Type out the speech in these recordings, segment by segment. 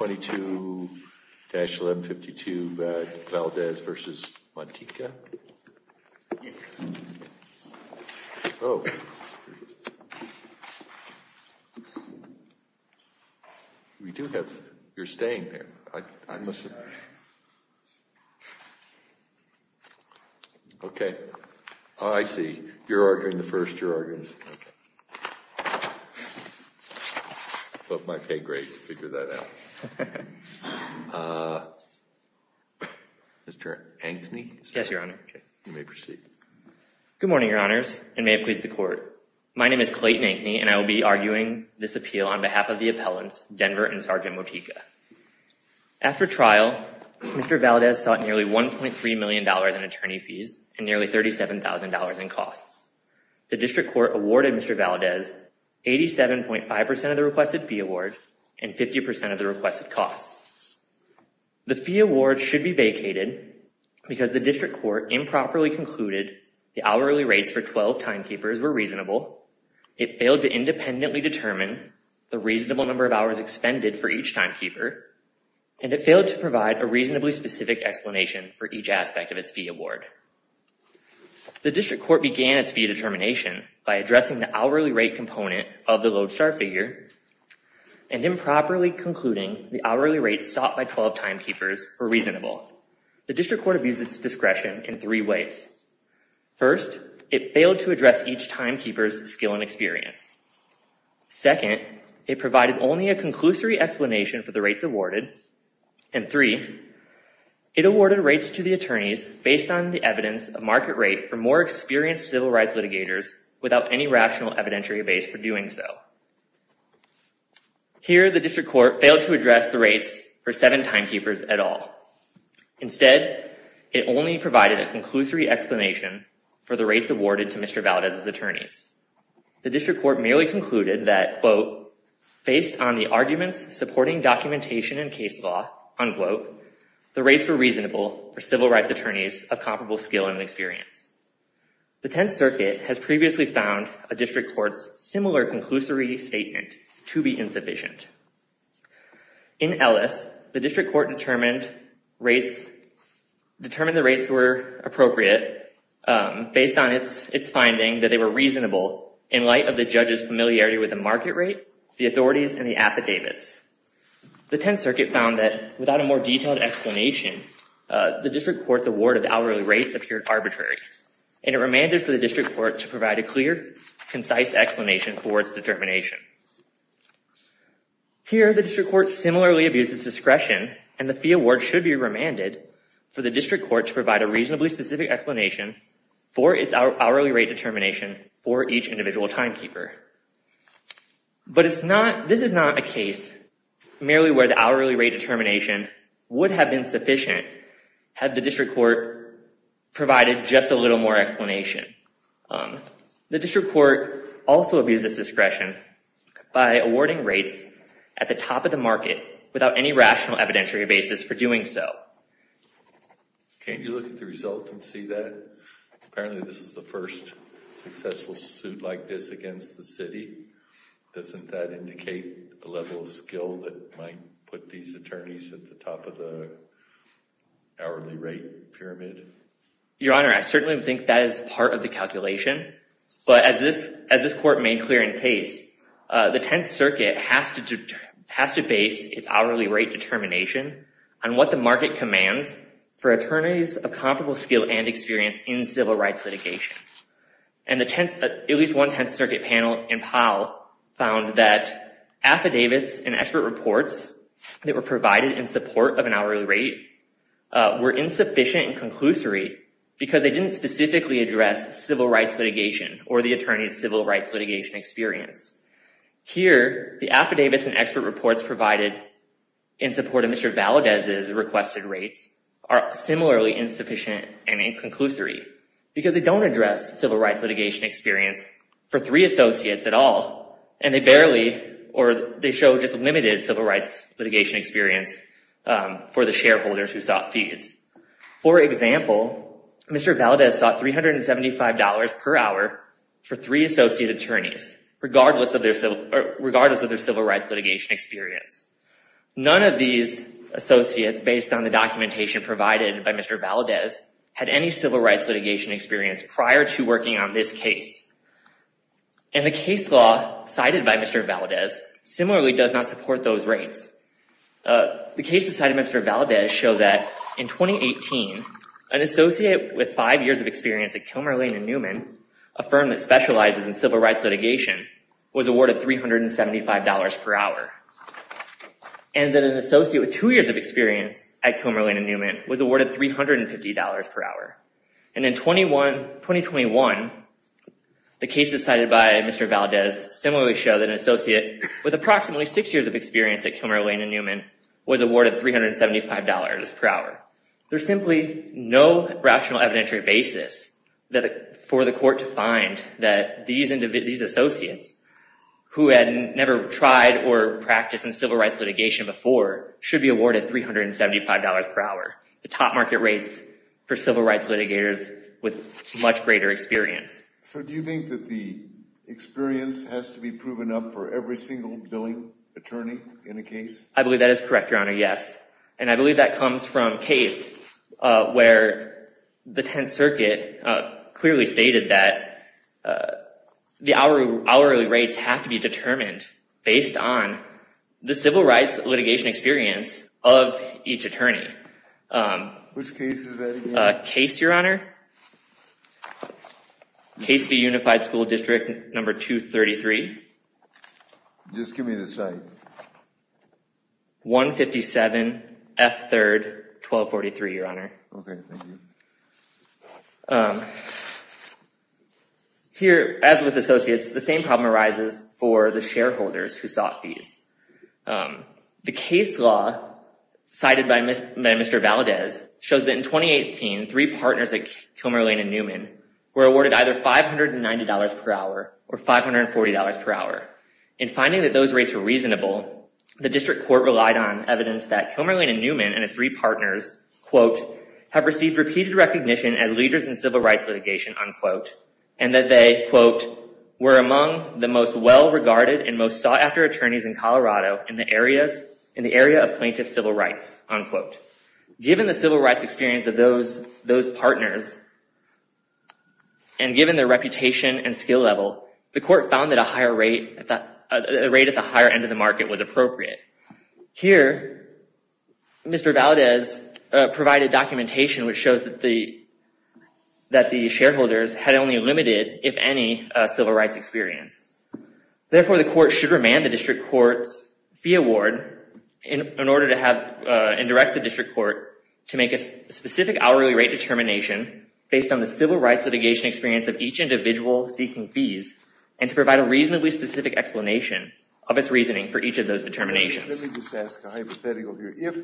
22-1152 Valdez v. Motyka. We do have, you're staying here. I'm sorry. Okay. Oh, I see. You're ordering the first, you're ordering second. Both might pay great to figure that out. Mr. Ankeny? Yes, Your Honor. You may proceed. Good morning, Your Honors, and may it please the Court. My name is Clayton Ankeny, and I will be arguing this appeal on behalf of the appellants, Denver and Sergeant Motyka. After trial, Mr. Valdez sought nearly $1.3 million in attorney fees and nearly $37,000 in costs. The District Court awarded Mr. Valdez 87.5% of the requested fee award and 50% of the requested costs. The fee award should be vacated because the District Court improperly concluded the hourly rates for 12 timekeepers were reasonable, it failed to independently determine the reasonable number of hours expended for each timekeeper, and it failed to provide a reasonably specific explanation for each aspect of its fee award. The District Court began its fee determination by addressing the hourly rate component of the lodestar figure and improperly concluding the hourly rates sought by 12 timekeepers were reasonable. The District Court abused its discretion in three ways. First, it failed to address each timekeeper's skill and experience. Second, it provided only a conclusory explanation for the rates awarded. And three, it awarded rates to the attorneys based on the evidence of market rate for more experienced civil rights litigators without any rational evidentiary base for doing so. Here, the District Court failed to address the rates for seven timekeepers at all. Instead, it only provided a conclusory explanation for the rates awarded to Mr. Valdez's attorneys. The District Court merely concluded that, quote, based on the arguments supporting documentation and case law, unquote, the rates were reasonable for civil rights attorneys of comparable skill and experience. The Tenth Circuit has previously found a District Court's similar conclusory statement to be insufficient. In Ellis, the District Court determined rates, determined the rates were appropriate based on its finding that they were reasonable in light of the judge's familiarity with the market rate, the authorities, and the affidavits. The Tenth Circuit found that without a more detailed explanation, the District Court's award of hourly rates appeared arbitrary, and it remanded for the District Court to provide a clear, concise explanation for its determination. Here, the District Court similarly abused its discretion, and the fee award should be remanded for the District Court to provide a reasonably specific explanation for its hourly rate determination for each individual timekeeper. But this is not a case merely where the hourly rate determination would have been sufficient had the District Court provided just a little more explanation. The District Court also abused its discretion by awarding rates at the top of the market without any rational evidentiary basis for doing so. Can't you look at the result and see that? Apparently this is the first successful suit like this against the city. Doesn't that indicate the level of skill that might put these attorneys at the top of the hourly rate pyramid? Your Honor, I certainly think that is part of the calculation. But as this Court made clear in case, the Tenth Circuit has to base its hourly rate determination on what the market commands for attorneys of comparable skill and experience in civil rights litigation. And at least one Tenth Circuit panel in Powell found that affidavits and expert reports that were provided in support of an hourly rate were insufficient and conclusory because they didn't specifically address civil rights litigation or the attorney's civil rights litigation experience. Here, the affidavits and expert reports provided in support of Mr. Valadez's requested rates are similarly insufficient and inconclusory because they don't address civil rights litigation experience for three associates at all and they barely or they show just limited civil rights litigation experience for the shareholders who sought fees. For example, Mr. Valadez sought $375 per hour for three associate attorneys regardless of their civil rights litigation experience. None of these associates, based on the documentation provided by Mr. Valadez, had any civil rights litigation experience prior to working on this case. And the case law cited by Mr. Valadez similarly does not support those rates. The cases cited by Mr. Valadez show that in 2018, an associate with five years of experience at Kilmer, Lane & Newman, a firm that specializes in civil rights litigation, was awarded $375 per hour. And that an associate with two years of experience at Kilmer, Lane & Newman was awarded $350 per hour. And in 2021, the cases cited by Mr. Valadez similarly show that an associate with approximately six years of experience at Kilmer, Lane & Newman was awarded $375 per hour. There's simply no rational evidentiary basis for the court to find that these associates who had never tried or practiced in civil rights litigation before should be awarded $375 per hour, the top market rates for civil rights litigators with much greater experience. So do you think that the experience has to be proven up for every single billing attorney in a case? I believe that is correct, Your Honor, yes. And I believe that comes from a case where the Tenth Circuit clearly stated that the hourly rates have to be determined based on the civil rights litigation experience of each attorney. Which case is that again? A case, Your Honor. Case v. Unified School District No. 233. Just give me the site. 157 F. 3rd, 1243, Your Honor. Okay, thank you. Here, as with associates, the same problem arises for the shareholders who sought fees. The case law cited by Mr. Valadez shows that in 2018, three partners at Kilmer, Lane & Newman were awarded either $590 per hour or $540 per hour. In finding that those rates were reasonable, the district court relied on evidence that Kilmer, Lane & Newman and its three partners have received repeated recognition as leaders in civil rights litigation and that they were among the most well-regarded and most sought-after attorneys in Colorado in the area of plaintiff civil rights. Given the civil rights experience of those partners and given their reputation and skill level, the court found that a rate at the higher end of the market was appropriate. Here, Mr. Valadez provided documentation which shows that the shareholders had only limited, if any, civil rights experience. Therefore, the court should remand the district court's fee award and direct the district court to make a specific hourly rate determination based on the civil rights litigation experience of each individual seeking fees and to provide a reasonably specific explanation of its reasoning for each of those determinations. Let me just ask a hypothetical here. If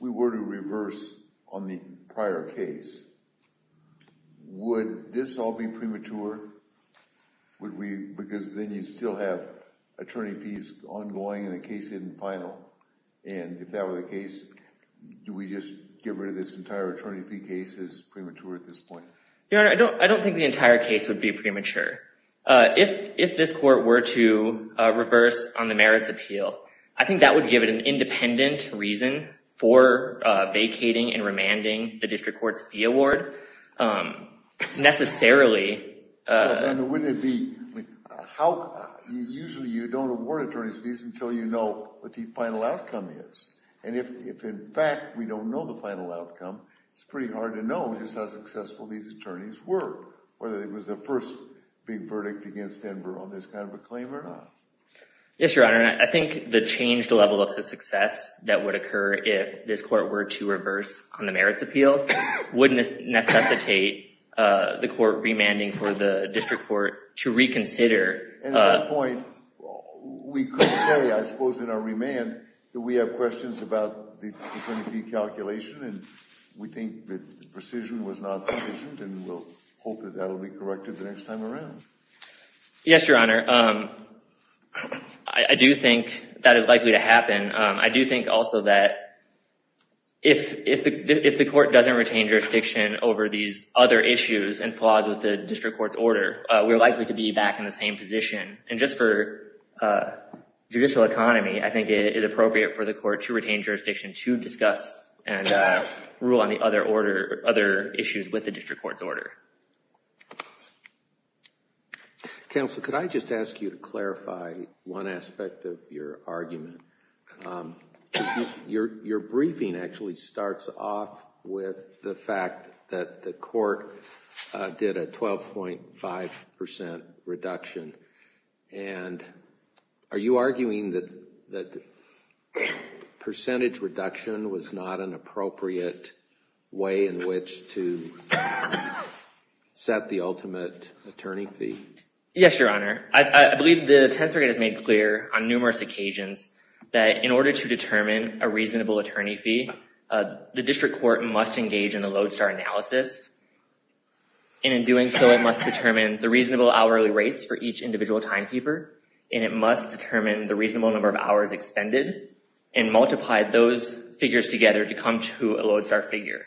we were to reverse on the prior case, would this all be premature? Because then you'd still have attorney fees ongoing and the case isn't final. And if that were the case, do we just get rid of this entire attorney fee case as premature at this point? Your Honor, I don't think the entire case would be premature. If this court were to reverse on the merits appeal, I think that would give it an independent reason for vacating and remanding the district court's fee award necessarily. Usually you don't award attorney fees until you know what the final outcome is. And if, in fact, we don't know the final outcome, it's pretty hard to know just how successful these attorneys were, whether it was the first big verdict against Denver on this kind of a claim or not. Yes, Your Honor. I think the changed level of the success that would occur if this court were to reverse on the merits appeal would necessitate the court remanding for the district court to reconsider. At that point, we could say, I suppose in our remand, that we have questions about the attorney fee calculation and we think that the precision was not sufficient and we'll hope that that will be corrected the next time around. I do think that is likely to happen. I do think also that if the court doesn't retain jurisdiction over these other issues and flaws with the district court's order, we're likely to be back in the same position. And just for judicial economy, I think it is appropriate for the court to retain jurisdiction to discuss Counsel, could I just ask you to clarify one aspect of your argument? Your briefing actually starts off with the fact that the court did a 12.5% reduction. And are you arguing that the percentage reduction was not an appropriate way in which to set the ultimate attorney fee? Yes, Your Honor. I believe the Tenth Circuit has made clear on numerous occasions that in order to determine a reasonable attorney fee, the district court must engage in a lodestar analysis. And in doing so, it must determine the reasonable hourly rates for each individual timekeeper. And it must determine the reasonable number of hours expended and multiply those figures together to come to a lodestar figure.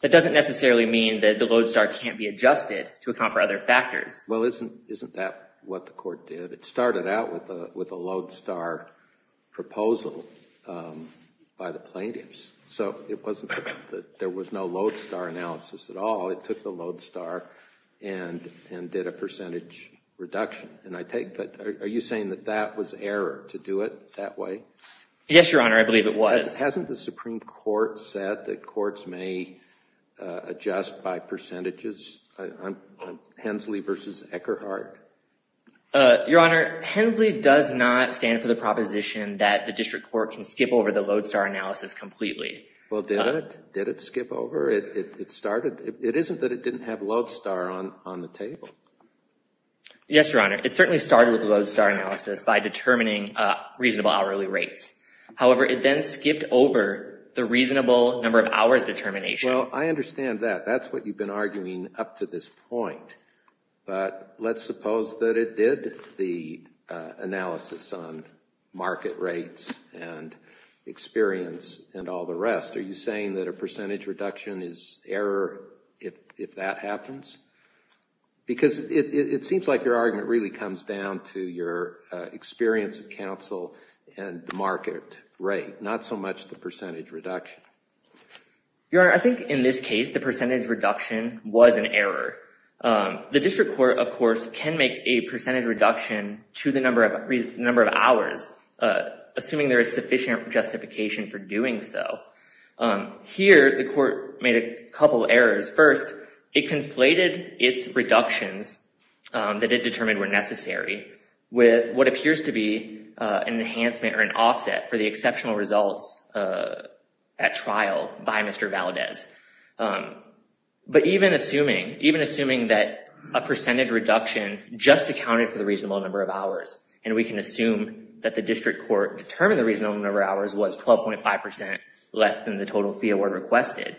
That doesn't necessarily mean that the lodestar can't be adjusted to account for other factors. Well, isn't that what the court did? It started out with a lodestar proposal by the plaintiffs. So it wasn't that there was no lodestar analysis at all. It took the lodestar and did a percentage reduction. Are you saying that that was error to do it that way? Yes, Your Honor. I believe it was. Hasn't the Supreme Court said that courts may adjust by percentages? Hensley v. Eckerhart? Your Honor, Hensley does not stand for the proposition that the district court can skip over the lodestar analysis completely. Well, did it? Did it skip over? It isn't that it didn't have lodestar on the table. Yes, Your Honor. It certainly started with lodestar analysis by determining reasonable hourly rates. However, it then skipped over the reasonable number of hours determination. Well, I understand that. That's what you've been arguing up to this point. But let's suppose that it did the analysis on market rates and experience and all the rest. Are you saying that a percentage reduction is error if that happens? Because it seems like your argument really comes down to your experience of counsel and the market rate, not so much the percentage reduction. Your Honor, I think in this case the percentage reduction was an error. The district court, of course, can make a percentage reduction to the number of hours assuming there is sufficient justification for doing so. Here, the court made a couple errors. First, it conflated its reductions that it determined were necessary with what appears to be an enhancement or an offset for the exceptional results at trial by Mr. Valdez. But even assuming that a percentage reduction just accounted for the reasonable number of hours and we can assume that the district court determined the reasonable number of hours was 12.5% less than the total fee award requested,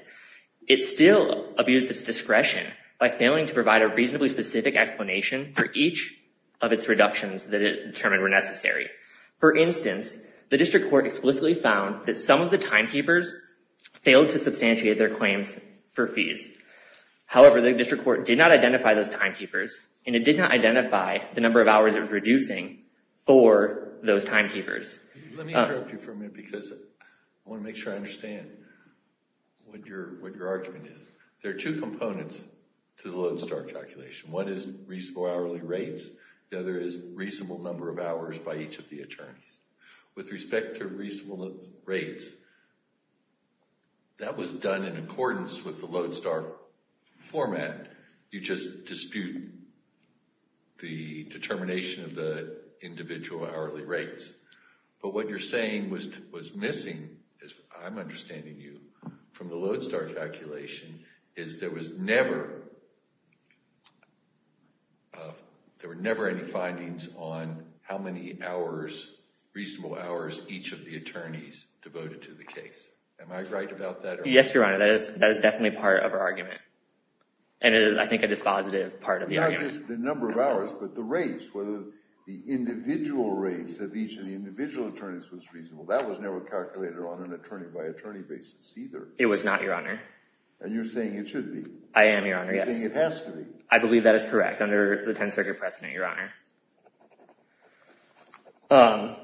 it still abused its discretion by failing to provide a reasonably specific explanation for each of its reductions that it determined were necessary. For instance, the district court explicitly found that some of the timekeepers failed to substantiate their claims for fees. However, the district court did not identify those timekeepers and it did not identify the number of hours it was reducing for those timekeepers. Let me interrupt you for a minute because I want to make sure I understand what your argument is. There are two components to the Lodestar calculation. One is reasonable hourly rates. The other is reasonable number of hours by each of the attorneys. With respect to reasonable rates, that was done in accordance with the Lodestar format. You just dispute the determination of the individual hourly rates. But what you're saying was missing, as I'm understanding you, from the Lodestar calculation is there was never any findings on how many hours, reasonable hours each of the attorneys devoted to the case. Am I right about that? Yes, Your Honor. That is definitely part of our argument. And it is, I think, a dispositive part of the argument. Not just the number of hours, but the rates, whether the individual rates of each of the individual attorneys was reasonable. That was never calculated on an attorney-by-attorney basis either. It was not, Your Honor. And you're saying it should be. I am, Your Honor, yes. You're saying it has to be. I believe that is correct under the Tenth Circuit precedent, Your Honor.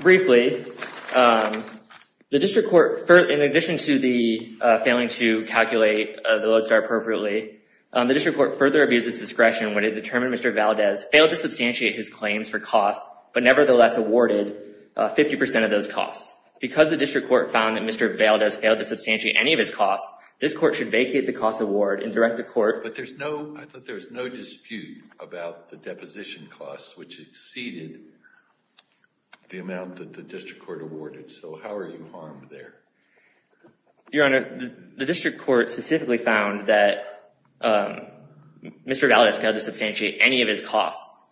Briefly, the district court, in addition to the failing to calculate the Lodestar appropriately, the district court further abused its discretion when it determined Mr. Valdez failed to substantiate his claims for costs, but nevertheless awarded 50% of those costs. Because the district court found that Mr. Valdez failed to substantiate any of his costs, this court should vacate the cost award and direct the court. But I thought there was no dispute about the deposition costs, which exceeded the amount that the district court awarded. So how are you harmed there? Your Honor, the district court specifically found that Mr. Valdez failed to substantiate any of his costs.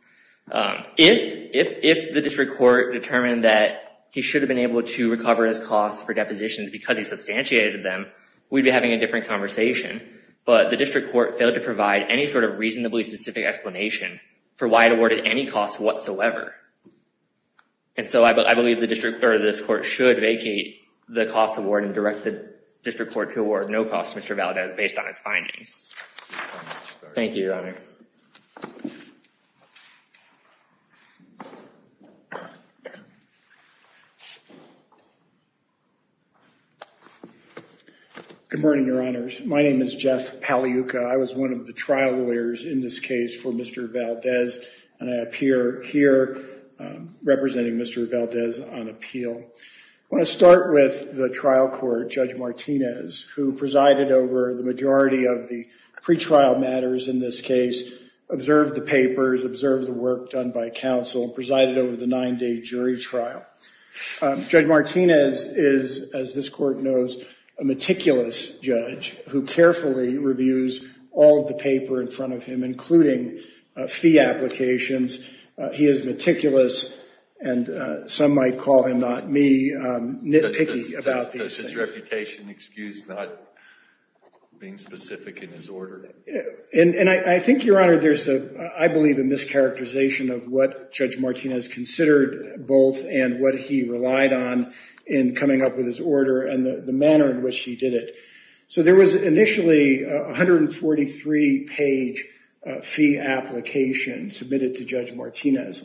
If the district court determined that he should have been able to recover his costs for depositions because he substantiated them, we'd be having a different conversation. But the district court failed to provide any sort of reasonably specific explanation for why it awarded any costs whatsoever. And so I believe this court should vacate the cost award and direct the district court to award no costs to Mr. Valdez based on its findings. Thank you, Your Honor. Good morning, Your Honors. My name is Jeff Pagliuca. I was one of the trial lawyers in this case for Mr. Valdez. And I appear here representing Mr. Valdez on appeal. I want to start with the trial court, Judge Martinez, who presided over the majority of the pretrial matters in this case, observed the papers, observed the work done by counsel, and presided over the nine-day jury trial. Judge Martinez is, as this court knows, a meticulous judge who carefully reviews all of the paper in front of him, including fee applications. He is meticulous, and some might call him, not me, nitpicky about these things. Does his reputation excuse not being specific in his order? And I think, Your Honor, there's, I believe, a mischaracterization of what Judge Martinez considered both and what he relied on in coming up with his order and the manner in which he did it. So there was initially a 143-page fee application submitted to Judge Martinez.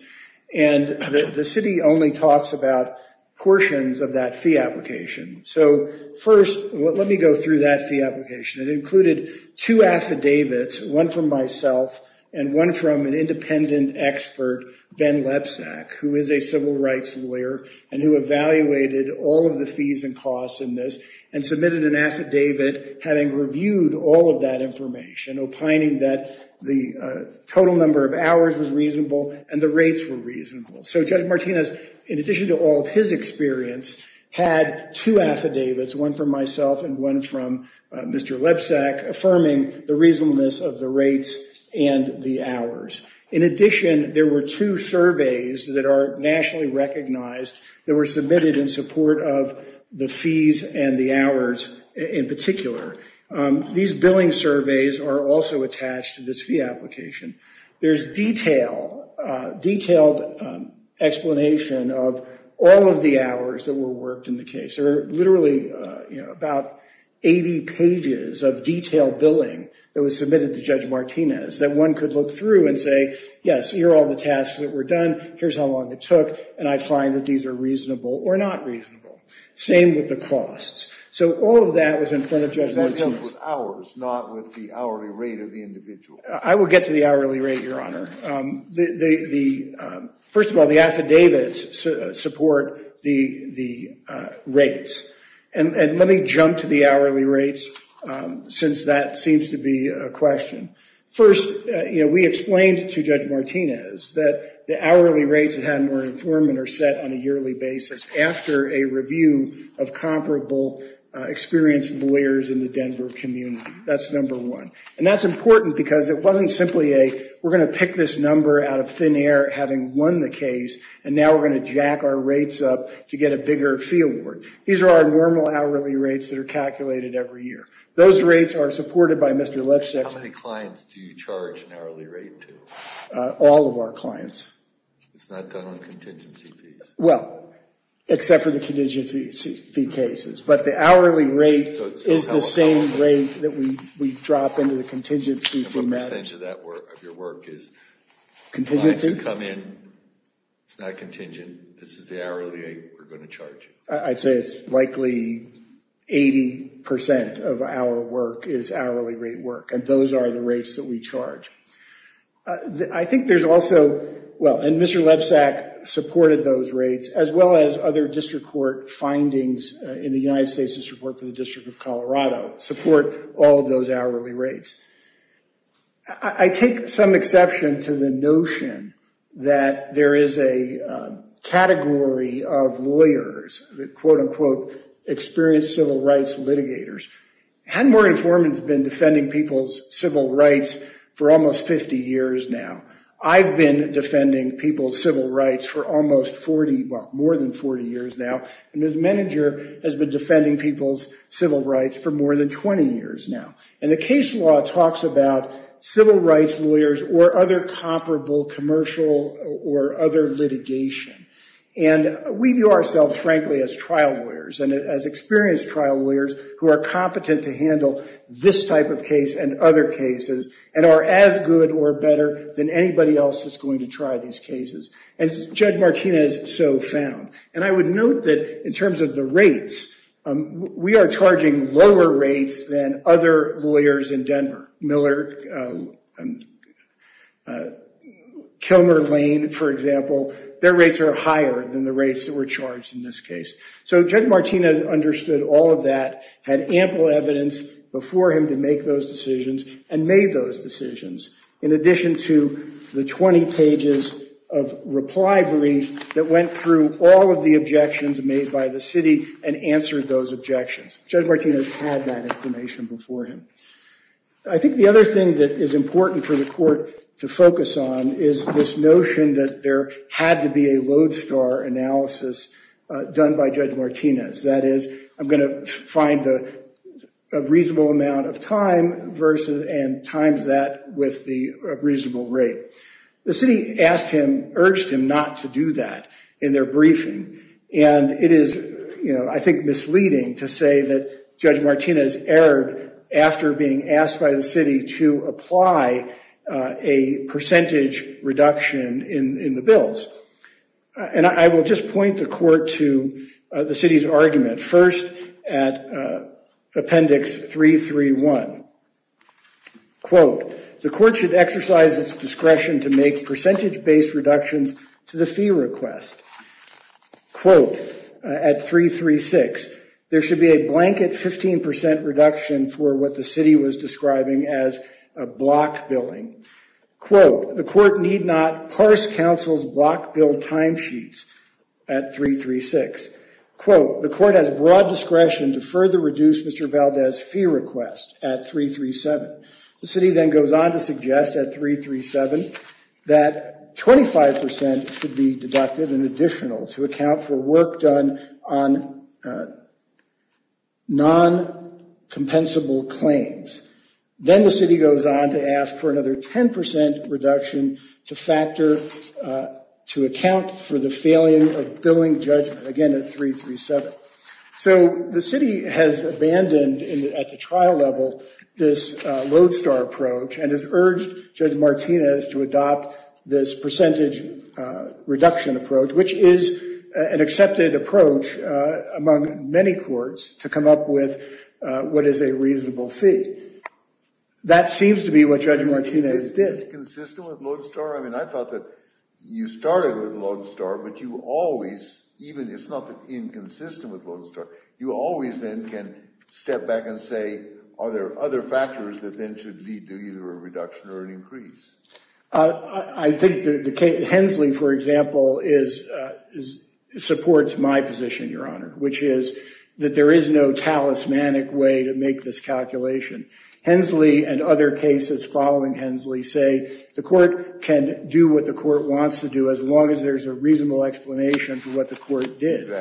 And the city only talks about portions of that fee application. So first, let me go through that fee application. It included two affidavits, one from myself and one from an independent expert, Ben Lebsack, who is a civil rights lawyer and who evaluated all of the fees and costs in this and submitted an affidavit having reviewed all of that information, opining that the total number of hours was reasonable and the rates were reasonable. So Judge Martinez, in addition to all of his experience, had two affidavits, one from myself and one from Mr. Lebsack, affirming the reasonableness of the rates and the hours. In addition, there were two surveys that are nationally recognized that were submitted in support of the fees and the hours in particular. These billing surveys are also attached to this fee application. There's detailed explanation of all of the hours that were worked in the case. There are literally about 80 pages of detailed billing that was submitted to Judge Martinez that one could look through and say, yes, here are all the tasks that were done, here's how long it took, and I find that these are reasonable or not reasonable. Same with the costs. So all of that was in front of Judge Martinez. It was him with hours, not with the hourly rate of the individual. I will get to the hourly rate, Your Honor. First of all, the affidavits support the rates. And let me jump to the hourly rates since that seems to be a question. First, we explained to Judge Martinez that the hourly rates that had more informant are set on a yearly basis after a review of comparable experienced lawyers in the Denver community. That's number one. And that's important because it wasn't simply a we're going to pick this number out of thin air, having won the case, and now we're going to jack our rates up to get a bigger fee award. These are our normal hourly rates that are calculated every year. Those rates are supported by Mr. Lipschitz. How many clients do you charge an hourly rate to? All of our clients. It's not done on contingency fees? Well, except for the contingency fee cases. But the hourly rate is the same rate that we drop into the contingency fee match. And what percentage of your work is? Contingency? Clients that come in, it's not contingent. This is the hourly rate we're going to charge you. I'd say it's likely 80% of our work is hourly rate work, and those are the rates that we charge. I think there's also, well, and Mr. Lebsack supported those rates, as well as other district court findings in the United States' report for the District of Colorado, support all of those hourly rates. I take some exception to the notion that there is a category of lawyers, the quote-unquote experienced civil rights litigators. Hadmore Informant's been defending people's civil rights for almost 50 years now. I've been defending people's civil rights for almost 40, well, more than 40 years now, and Ms. Menninger has been defending people's civil rights for more than 20 years now. And the case law talks about civil rights lawyers or other comparable commercial or other litigation. And we view ourselves, frankly, as trial lawyers and as experienced trial lawyers who are competent to handle this type of case and other cases and are as good or better than anybody else that's going to try these cases, as Judge Martinez so found. And I would note that in terms of the rates, we are charging lower rates than other lawyers in Denver. Miller, Kilmer, Lane, for example, their rates are higher than the rates that were charged in this case. So Judge Martinez understood all of that, had ample evidence before him to make those decisions, and made those decisions in addition to the 20 pages of reply brief that went through all of the objections made by the city and answered those objections. Judge Martinez had that information before him. I think the other thing that is important for the court to focus on is this notion that there had to be a lodestar analysis done by Judge Martinez. That is, I'm going to find a reasonable amount of time and times that with the reasonable rate. The city asked him, urged him not to do that in their briefing. And it is, I think, misleading to say that Judge Martinez erred after being asked by the city to apply a percentage reduction in the bills. And I will just point the court to the city's argument. First, at Appendix 331. Quote, the court should exercise its discretion to make percentage-based reductions to the fee request. Quote, at 336, there should be a blanket 15% reduction for what the city was describing as a block billing. Quote, the court need not parse counsel's block bill timesheets at 336. Quote, the court has broad discretion to further reduce Mr. Valdez's fee request at 337. The city then goes on to suggest at 337 that 25% should be deducted in additional to account for work done on non-compensable claims. Then the city goes on to ask for another 10% reduction to factor to account for the failing of billing judgment, again at 337. So the city has abandoned at the trial level this lodestar approach and has urged Judge Martinez to adopt this percentage reduction approach, which is an accepted approach among many courts to come up with what is a reasonable fee. That seems to be what Judge Martinez did. Is it consistent with lodestar? I mean, I thought that you started with lodestar, but you always, even if it's not inconsistent with lodestar, you always then can step back and say, are there other factors that then should lead to either a reduction or an increase? I think Hensley, for example, supports my position, Your Honor, which is that there is no talismanic way to make this calculation. Hensley and other cases following Hensley say the court can do what the court wants to do as long as there's a reasonable explanation for what the court did.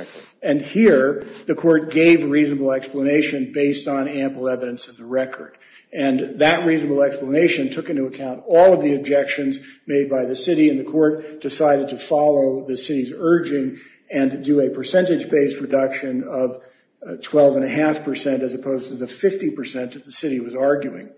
And here, the court gave a reasonable explanation based on ample evidence of the record. And that reasonable explanation took into account all of the objections made by the city, and the court decided to follow the city's urging and do a percentage-based reduction of 12.5 percent as opposed to the 50 percent that the city was arguing.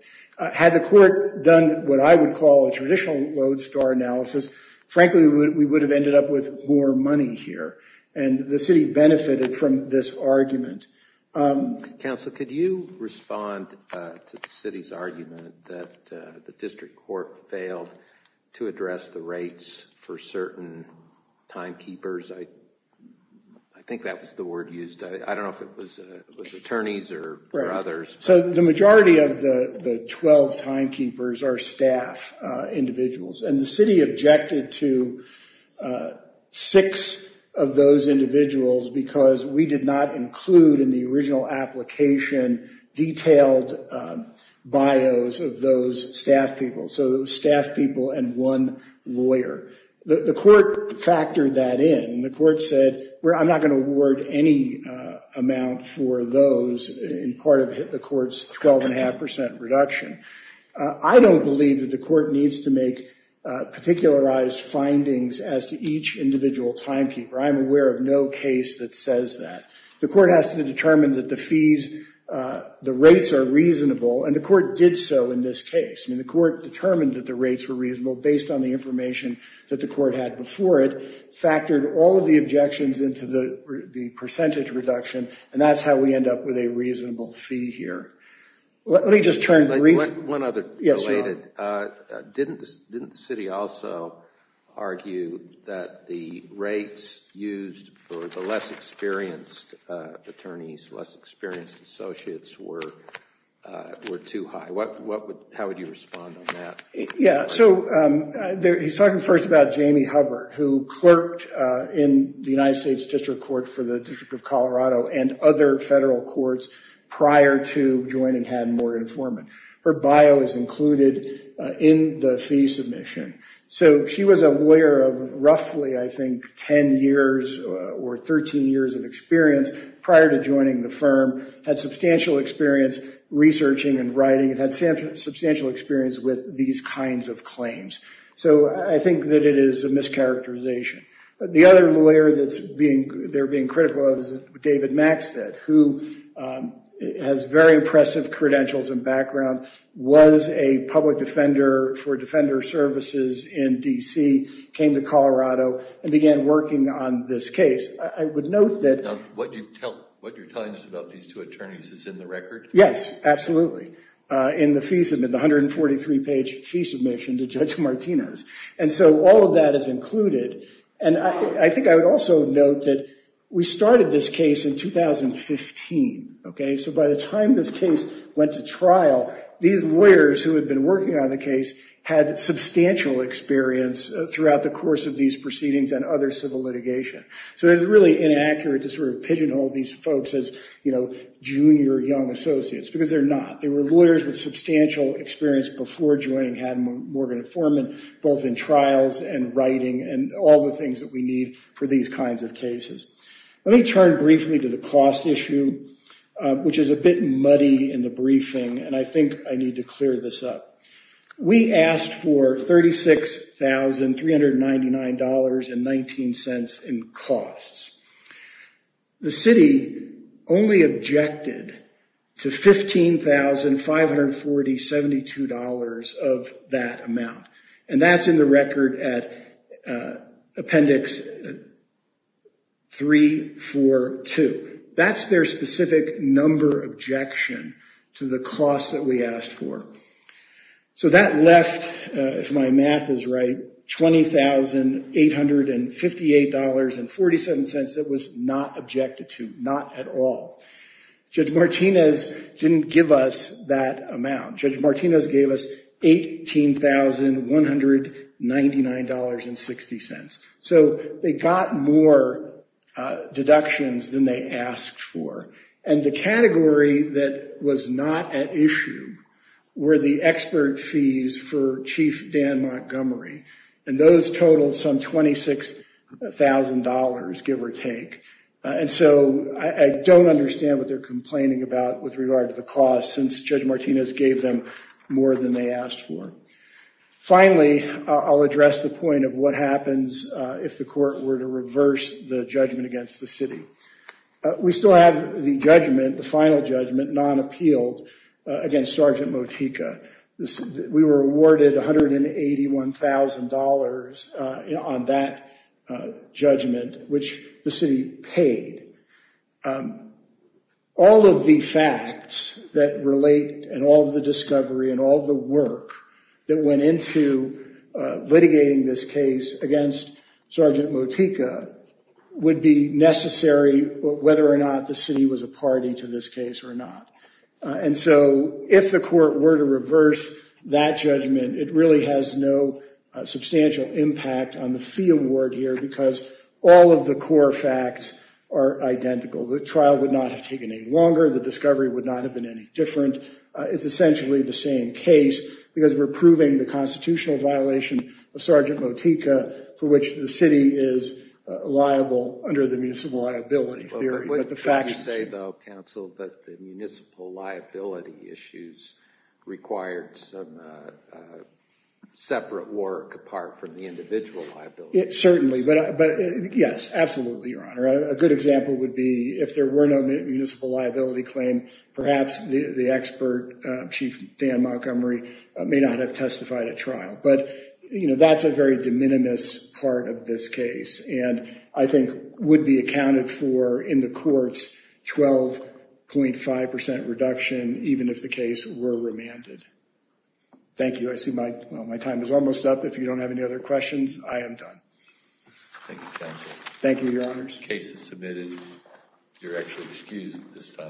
Had the court done what I would call a traditional lodestar analysis, frankly, we would have ended up with more money here, and the city benefited from this argument. Counsel, could you respond to the city's argument that the district court failed to address the rates for certain timekeepers? I think that was the word used. I don't know if it was attorneys or others. So the majority of the 12 timekeepers are staff individuals, and the city objected to six of those individuals because we did not include in the original application detailed bios of those staff people. So it was staff people and one lawyer. The court factored that in, and the court said, I'm not going to award any amount for those in part of the court's 12.5 percent reduction. I don't believe that the court needs to make particularized findings as to each individual timekeeper. I'm aware of no case that says that. The court has to determine that the rates are reasonable, and the court did so in this case. I mean, the court determined that the rates were reasonable based on the information that the court had before it, factored all of the objections into the percentage reduction, and that's how we end up with a reasonable fee here. Let me just turn to one other related. Didn't the city also argue that the rates used for the less experienced attorneys, less experienced associates, were too high? How would you respond on that? Yeah, so he's talking first about Jamie Hubbard, who clerked in the United States District Court for the District of Colorado and other federal courts prior to joining Haddon-Morgan Foreman. Her bio is included in the fee submission. So she was a lawyer of roughly, I think, 10 years or 13 years of experience prior to joining the firm, had substantial experience researching and writing, and had substantial experience with these kinds of claims. So I think that it is a mischaracterization. The other lawyer they're being critical of is David Maxted, who has very impressive credentials and background, was a public defender for Defender Services in D.C., came to Colorado, and began working on this case. I would note that— Now, what you're telling us about these two attorneys is in the record? Yes, absolutely. In the 143-page fee submission to Judge Martinez. And so all of that is included. And I think I would also note that we started this case in 2015. So by the time this case went to trial, these lawyers who had been working on the case had substantial experience throughout the course of these proceedings and other civil litigation. So it's really inaccurate to sort of pigeonhole these folks as, you know, junior young associates, because they're not. They were lawyers with substantial experience before joining Morgan & Foreman, both in trials and writing, and all the things that we need for these kinds of cases. Let me turn briefly to the cost issue, which is a bit muddy in the briefing, and I think I need to clear this up. We asked for $36,399.19 in costs. The city only objected to $15,540.72 of that amount. And that's in the record at Appendix 342. That's their specific number objection to the cost that we asked for. So that left, if my math is right, $20,858.47 that was not objected to, not at all. Judge Martinez didn't give us that amount. Judge Martinez gave us $18,199.60. So they got more deductions than they asked for. And the category that was not at issue were the expert fees for Chief Dan Montgomery, and those totaled some $26,000, give or take. And so I don't understand what they're complaining about with regard to the cost, since Judge Martinez gave them more than they asked for. Finally, I'll address the point of what happens if the court were to reverse the judgment against the city. We still have the judgment, the final judgment, non-appealed against Sergeant Motika. We were awarded $181,000 on that judgment, which the city paid. All of the facts that relate and all of the discovery and all of the work that went into litigating this case against Sergeant Motika would be necessary, whether or not the city was a party to this case or not. And so if the court were to reverse that judgment, it really has no substantial impact on the fee award here, because all of the core facts are identical. The trial would not have taken any longer. The discovery would not have been any different. It's essentially the same case, because we're proving the constitutional violation of Sergeant Motika, for which the city is liable under the municipal liability theory. What would you say, though, counsel, that the municipal liability issues required some separate work apart from the individual liability issues? Certainly. But yes, absolutely, Your Honor. A good example would be if there were no municipal liability claim, perhaps the expert, Chief Dan Montgomery, may not have testified at trial. But that's a very de minimis part of this case and I think would be accounted for in the court's 12.5% reduction, even if the case were remanded. Thank you. I see my time is almost up. If you don't have any other questions, I am done. Thank you, counsel. Thank you, Your Honors. Case is submitted. You're actually excused this time.